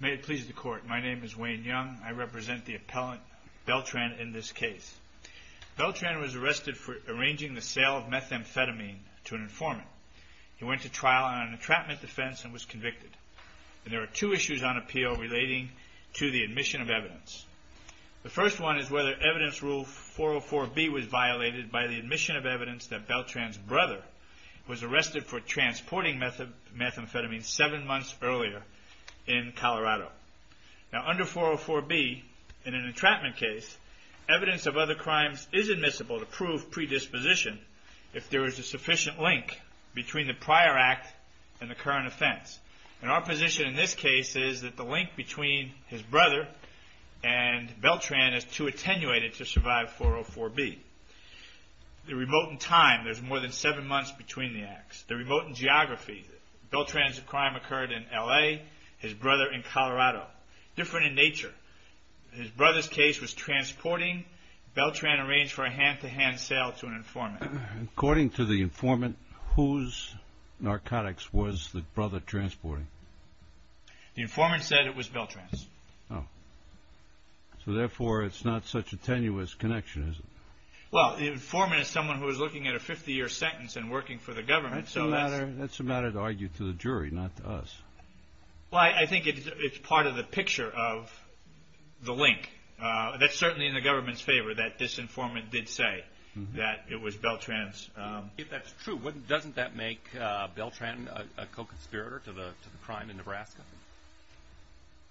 May it please the Court. My name is Wayne Young. I represent the appellant Beltran in this case. Beltran was arrested for arranging the sale of methamphetamine to an informant. He went to trial on an entrapment defense and was convicted. There are two issues on appeal relating to the admission of evidence. The first one is whether evidence rule 404B was violated by the admission of evidence that Beltran's brother was arrested for transporting methamphetamine seven months earlier in Colorado. Under 404B, in an entrapment case, evidence of other crimes is admissible to prove predisposition if there is a sufficient link between the prior act and the current offense. Our position in this case is that the link between his brother and Beltran is too attenuated to survive 404B. The remote in time, there's more than seven months between the acts. The remote in geography, Beltran's crime occurred in L.A., his brother in Colorado. Different in nature, his brother's case was transporting. Beltran arranged for a hand-to-hand sale to an informant. According to the informant, whose narcotics was the brother transporting? The informant said it was Beltran's. So therefore, it's not such a tenuous connection, is it? Well, the informant is someone who is looking at a 50-year sentence and working for the government. That's a matter to argue to the jury, not to us. Well, I think it's part of the picture of the link. That's certainly in the government's favor that this informant did say that it was Beltran's. If that's true, doesn't that make Beltran a co-conspirator to the crime in Nebraska?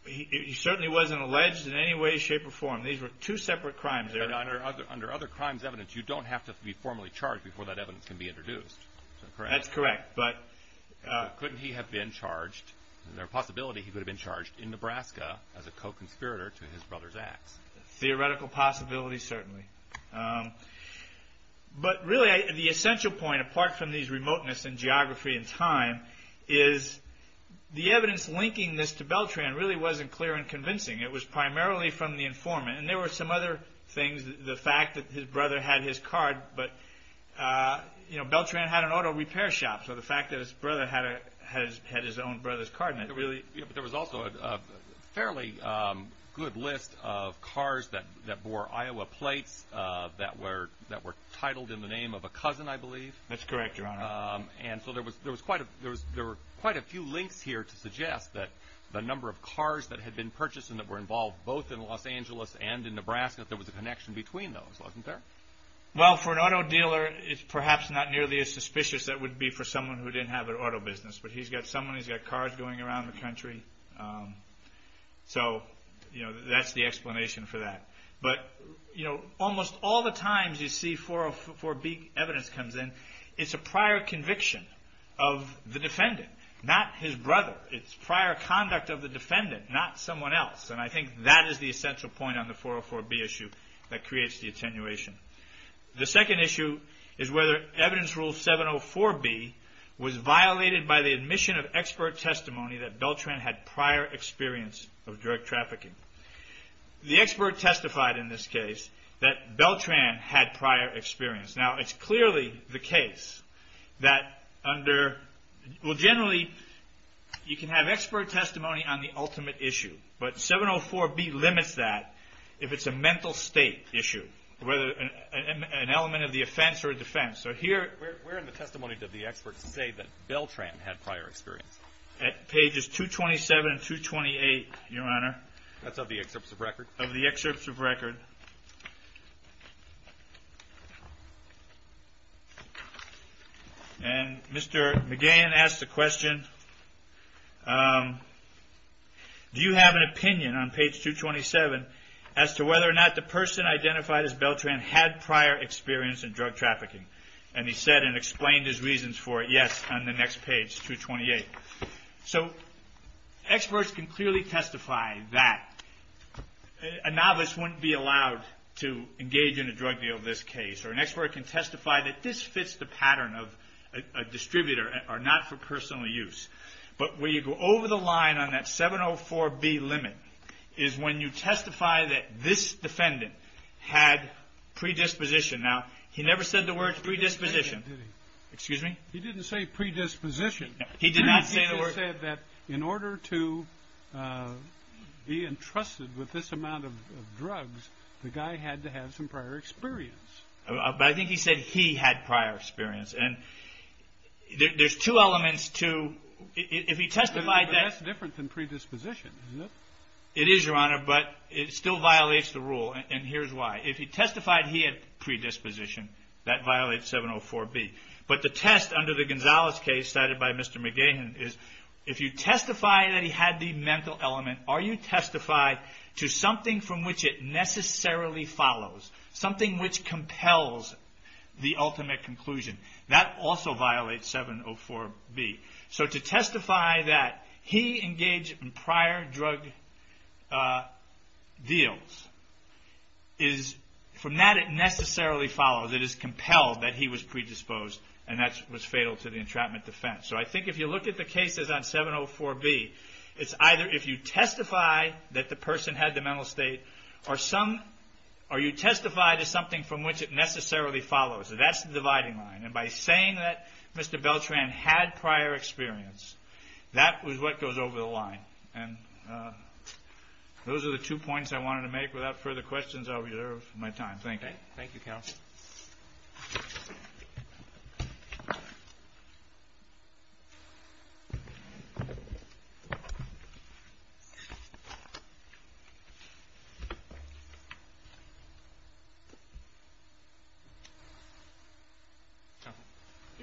He certainly wasn't alleged in any way, shape, or form. These were two separate crimes. Under other crimes' evidence, you don't have to be formally charged before that evidence can be introduced. That's correct. Couldn't he have been charged? Is there a possibility he could have been charged in Nebraska as a co-conspirator to his brother's acts? Theoretical possibility, certainly. But really, the essential point, apart from these remoteness in geography and time, is the evidence linking this to Beltran really wasn't clear and convincing. It was primarily from the informant. And there were some other things, the fact that his brother had his card. But, you know, Beltran had an auto repair shop, so the fact that his brother had his own brother's card, really. There was also a fairly good list of cars that bore Iowa plates that were titled in the name of a cousin, I believe. That's correct, Your Honor. And so there were quite a few links here to suggest that the number of cars that had been purchased and that were involved both in Los Angeles and in Nebraska, that there was a connection between those, wasn't there? Well, for an auto dealer, it's perhaps not nearly as suspicious as it would be for someone who didn't have an auto business. But he's got someone, he's got cars going around the country. So, you know, that's the explanation for that. But, you know, almost all the times you see 404B evidence comes in, it's a prior conviction of the defendant, not his brother. It's prior conduct of the defendant, not someone else. And I think that is the essential point on the 404B issue that creates the attenuation. The second issue is whether evidence rule 704B was violated by the admission of expert testimony that Beltran had prior experience of drug trafficking. The expert testified in this case that Beltran had prior experience. Now, it's clearly the case that under – well, generally, you can have expert testimony on the ultimate issue. But 704B limits that if it's a mental state issue, whether an element of the offense or defense. So here – Where in the testimony did the expert say that Beltran had prior experience? At pages 227 and 228, Your Honor. That's of the excerpts of record? Of the excerpts of record. And Mr. McGahan asked the question, do you have an opinion on page 227 as to whether or not the person identified as Beltran had prior experience in drug trafficking? And he said and explained his reasons for it, yes, on the next page, 228. So experts can clearly testify that. A novice wouldn't be allowed to engage in a drug deal in this case. Or an expert can testify that this fits the pattern of a distributor or not for personal use. But where you go over the line on that 704B limit is when you testify that this defendant had predisposition. Now, he never said the word predisposition. Did he? Excuse me? He didn't say predisposition. He did not say the word – He said that in order to be entrusted with this amount of drugs, the guy had to have some prior experience. But I think he said he had prior experience. And there's two elements to – if he testified that – But that's different than predisposition, isn't it? It is, Your Honor. But it still violates the rule. And here's why. If he testified he had predisposition, that violates 704B. But the test under the Gonzales case cited by Mr. McGahan is, if you testify that he had the mental element, are you testifying to something from which it necessarily follows, something which compels the ultimate conclusion? That also violates 704B. So to testify that he engaged in prior drug deals is – from that it necessarily follows. It is compelled that he was predisposed and that was fatal to the entrapment defense. So I think if you look at the cases on 704B, it's either if you testify that the person had the mental state or you testify to something from which it necessarily follows. That's the dividing line. And by saying that Mr. Beltran had prior experience, that was what goes over the line. And those are the two points I wanted to make. Without further questions, I'll reserve my time. Thank you, counsel.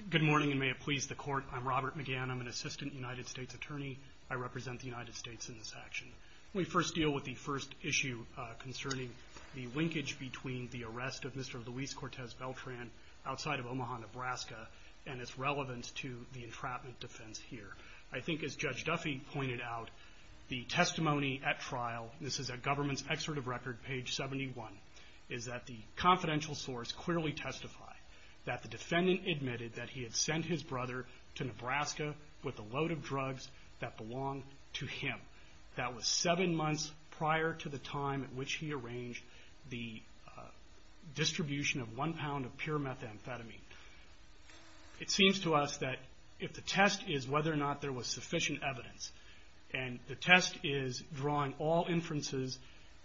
Good morning, and may it please the Court. I'm Robert McGahan. I'm an assistant United States attorney. I represent the United States in this action. Let me first deal with the first issue concerning the linkage between the arrest of Mr. Luis Cortez Beltran outside of Omaha, Nebraska, and its relevance to the entrapment defense here. I think, as Judge Duffy pointed out, the testimony at trial – this is at Government's Excerpt of Record, page 71 – is that the confidential source clearly testified that the defendant admitted that he had sent his brother to Nebraska with a load of drugs that belonged to him. That was seven months prior to the time at which he arranged the distribution of one pound of pure methamphetamine. It seems to us that if the test is whether or not there was sufficient evidence, and the test is drawing all inferences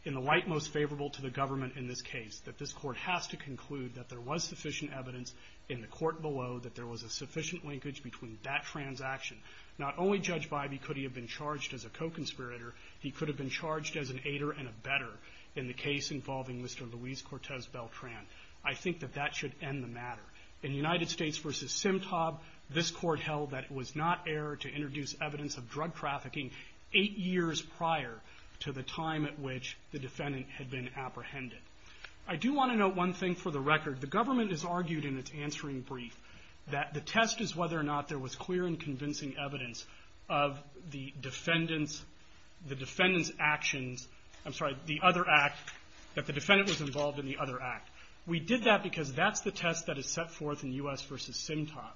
in the light most favorable to the government in this case, that this Court has to conclude that there was sufficient evidence in the court below that there was a sufficient linkage between that transaction. Not only, Judge Bybee, could he have been charged as a co-conspirator, he could have been charged as an aider and a better in the case involving Mr. Luis Cortez Beltran. I think that that should end the matter. In United States v. Simtob, this Court held that it was not error to introduce evidence of drug trafficking eight years prior to the time at which the defendant had been apprehended. I do want to note one thing for the record. The government has argued in its answering brief that the test is whether or not there was clear and convincing evidence of the defendant's actions – I'm sorry, the other act, that the defendant was involved in the other act. We did that because that's the test that is set forth in U.S. v. Simtob.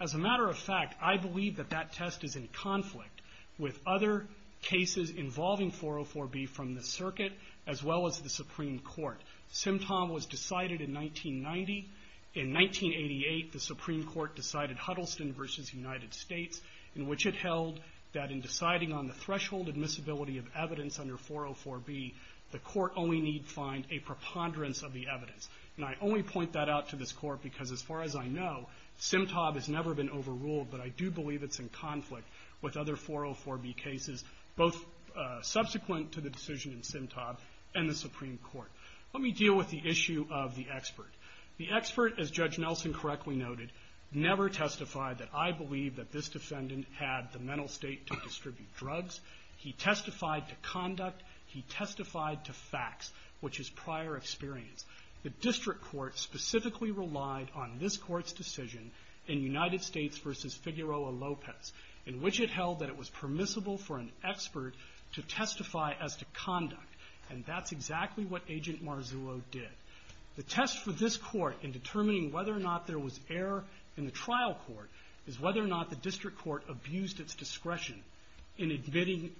As a matter of fact, I believe that that test is in conflict with other cases involving 404B from the circuit as well as the Supreme Court. Simtob was decided in 1990. In 1988, the Supreme Court decided Huddleston v. United States, in which it held that in deciding on the threshold admissibility of evidence under 404B, the Court only need find a preponderance of the evidence. And I only point that out to this Court because, as far as I know, Simtob has never been overruled, but I do believe it's in conflict with other 404B cases, both subsequent to the decision in Simtob and the Supreme Court. Let me deal with the issue of the expert. The expert, as Judge Nelson correctly noted, never testified that, I believe, that this defendant had the mental state to distribute drugs. He testified to conduct. He testified to facts, which is prior experience. The district court specifically relied on this Court's decision in United States v. Figueroa-Lopez, in which it held that it was permissible for an expert to testify as to conduct. And that's exactly what Agent Marzullo did. The test for this Court in determining whether or not there was error in the trial court is whether or not the district court abused its discretion in admitting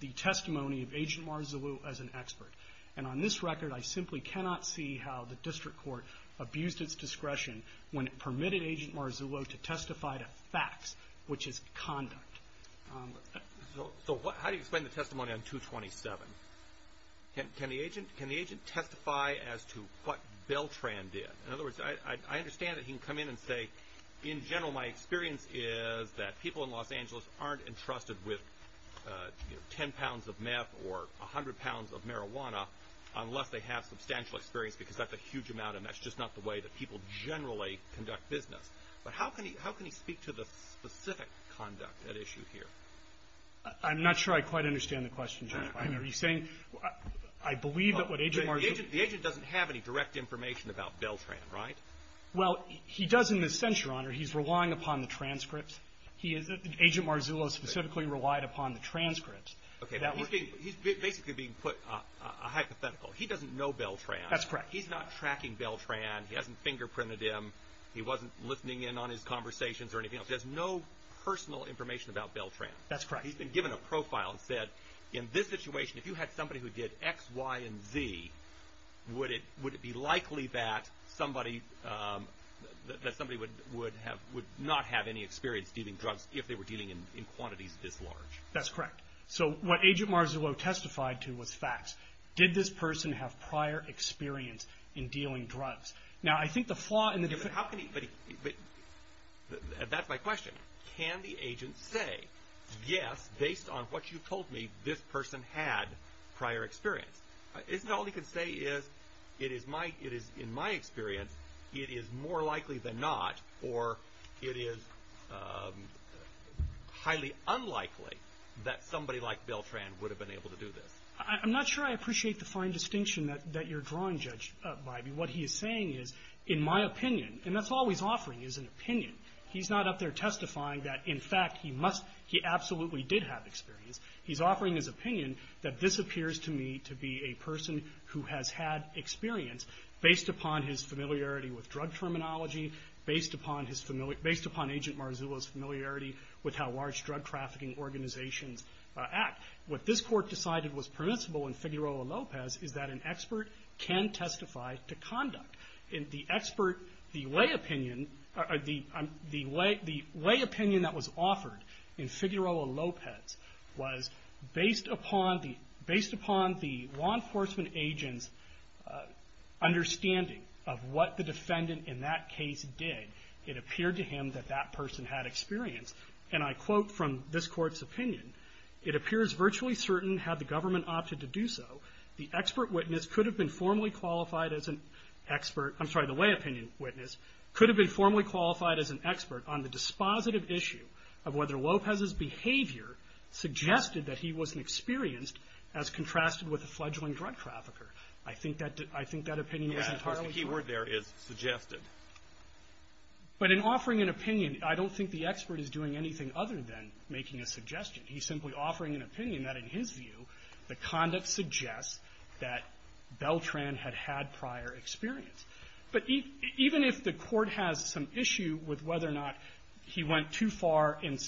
the testimony of Agent Marzullo as an expert. And on this record, I simply cannot see how the district court abused its discretion when it permitted Agent Marzullo to testify to facts, which is conduct. So how do you explain the testimony on 227? Can the agent testify as to what Beltran did? In other words, I understand that he can come in and say, in general my experience is that people in Los Angeles aren't entrusted with, you know, 10 pounds of meth or 100 pounds of marijuana unless they have substantial experience, because that's a huge amount. And that's just not the way that people generally conduct business. But how can he speak to the specific conduct at issue here? I'm not sure I quite understand the question, Judge Breyer. Are you saying I believe that what Agent Marzullo ---- The agent doesn't have any direct information about Beltran, right? Well, he doesn't, in a sense, Your Honor. He's relying upon the transcripts. Agent Marzullo specifically relied upon the transcripts. Okay. He's basically being put a hypothetical. He doesn't know Beltran. That's correct. He's not tracking Beltran. He hasn't fingerprinted him. He wasn't listening in on his conversations or anything else. He has no personal information about Beltran. That's correct. He's been given a profile and said, in this situation, if you had somebody who did X, Y, and Z, would it be likely that somebody would not have any experience dealing drugs if they were dealing in quantities this large? That's correct. So what Agent Marzullo testified to was facts. Did this person have prior experience in dealing drugs? Now, I think the flaw in the different ---- But how can he ---- That's my question. Can the agent say, yes, based on what you told me, this person had prior experience? Isn't it all he can say is, in my experience, it is more likely than not, or it is highly unlikely that somebody like Beltran would have been able to do this? I'm not sure I appreciate the fine distinction that you're drawing, Judge Bybee. What he is saying is, in my opinion, and that's all he's offering is an opinion. He's not up there testifying that, in fact, he absolutely did have experience. He's offering his opinion that this appears to me to be a person who has had experience, based upon his familiarity with drug terminology, based upon Agent Marzullo's familiarity with how large drug trafficking organizations act. What this Court decided was permissible in Figueroa-Lopez is that an expert can testify to conduct. The expert, the way opinion, the way opinion that was offered in Figueroa-Lopez was that based upon the law enforcement agent's understanding of what the defendant in that case did, it appeared to him that that person had experience. And I quote from this Court's opinion, it appears virtually certain had the government opted to do so, the expert witness could have been formally qualified as an expert. I'm sorry, the way opinion witness could have been formally qualified as an expert on the dispositive issue of whether Lopez's behavior suggested that he wasn't experienced as contrasted with a fledgling drug trafficker. I think that opinion was entirely true. Alitoson Yeah. Of course, the key word there is suggested. Fisher But in offering an opinion, I don't think the expert is doing anything other than making a suggestion. He's simply offering an opinion that, in his view, the conduct suggests that Beltran had had prior experience. But even if the Court has some issue with whether or not he went too far and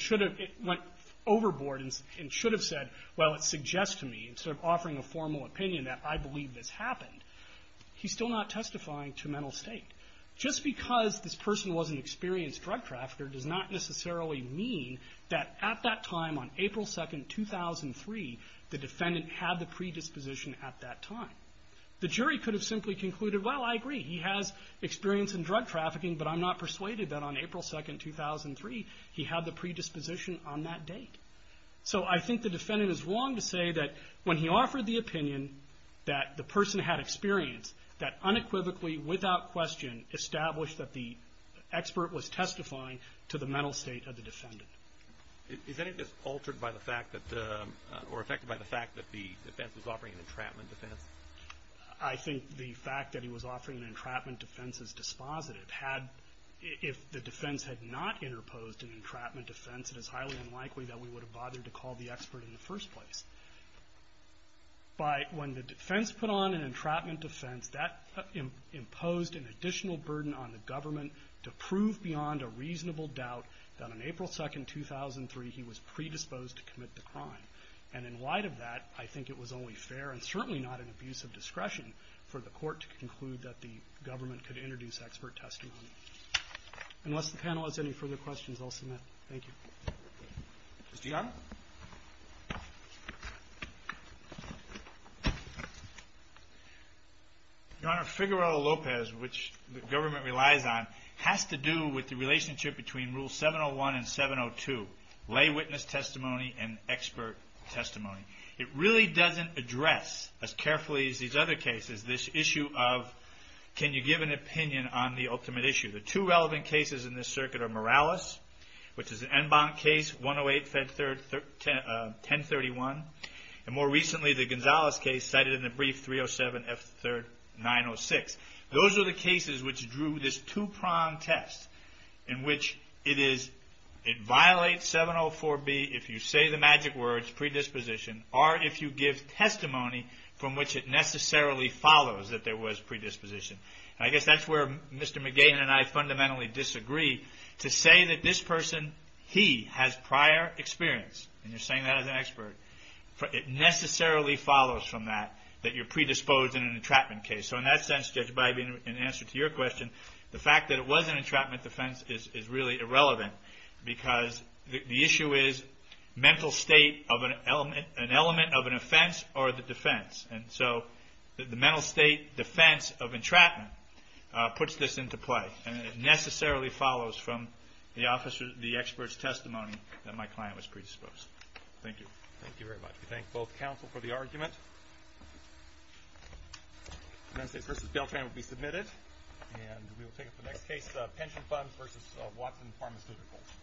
should have went overboard and should have said, well, it suggests to me, instead of offering a formal opinion that I believe this happened, he's still not testifying to mental state. Just because this person was an experienced drug trafficker does not necessarily mean that at that time on April 2nd, 2003, the defendant had the predisposition at that time. The jury could have simply concluded, well, I agree. He has experience in drug trafficking, but I'm not persuaded that on April 2nd, 2003, he had the predisposition on that date. So I think the defendant is wrong to say that when he offered the opinion that the person had experience, that unequivocally, without question, established that the expert was testifying to the mental state of the defendant. Alitoson Is any of this altered by the fact that the defense was offering an entrapment defense? I think the fact that he was offering an entrapment defense is dispositive. If the defense had not interposed an entrapment defense, it is highly unlikely that we would have bothered to call the expert in the first place. But when the defense put on an entrapment defense, that imposed an additional burden on the government to prove beyond a reasonable doubt that on April 2nd, 2003, he was predisposed to commit the crime. And in light of that, I think it was only fair, and certainly not an abuse of discretion, for the court to conclude that the government could introduce expert testimony. Unless the panel has any further questions, I'll submit. Thank you. Mr. Young? Your Honor, Figueroa Lopez, which the government relies on, has to do with the expert testimony. It really doesn't address, as carefully as these other cases, this issue of, can you give an opinion on the ultimate issue? The two relevant cases in this circuit are Morales, which is an en banc case, 108, Fed Third, 1031. And more recently, the Gonzales case, cited in the brief, 307, F Third, 906. Those are the cases which drew this two-prong test, in which it is, it violates 704B, if you say the magic words, predisposition, or if you give testimony from which it necessarily follows that there was predisposition. I guess that's where Mr. McGinn and I fundamentally disagree. To say that this person, he, has prior experience, and you're saying that as an expert, it necessarily follows from that, that you're predisposed in an entrapment case. So in that sense, Judge Bybee, in answer to your question, the fact that it was an entrapment defense is really irrelevant, because the issue is mental state of an element, an element of an offense, or the defense. And so, the mental state defense of entrapment puts this into play. And it necessarily follows from the officer, the expert's testimony that my client was predisposed. Thank you. Thank you very much. We thank both counsel for the argument. The mental state versus bail claim will be submitted. And we will take up the next case, pension funds versus Watson Pharmaceuticals.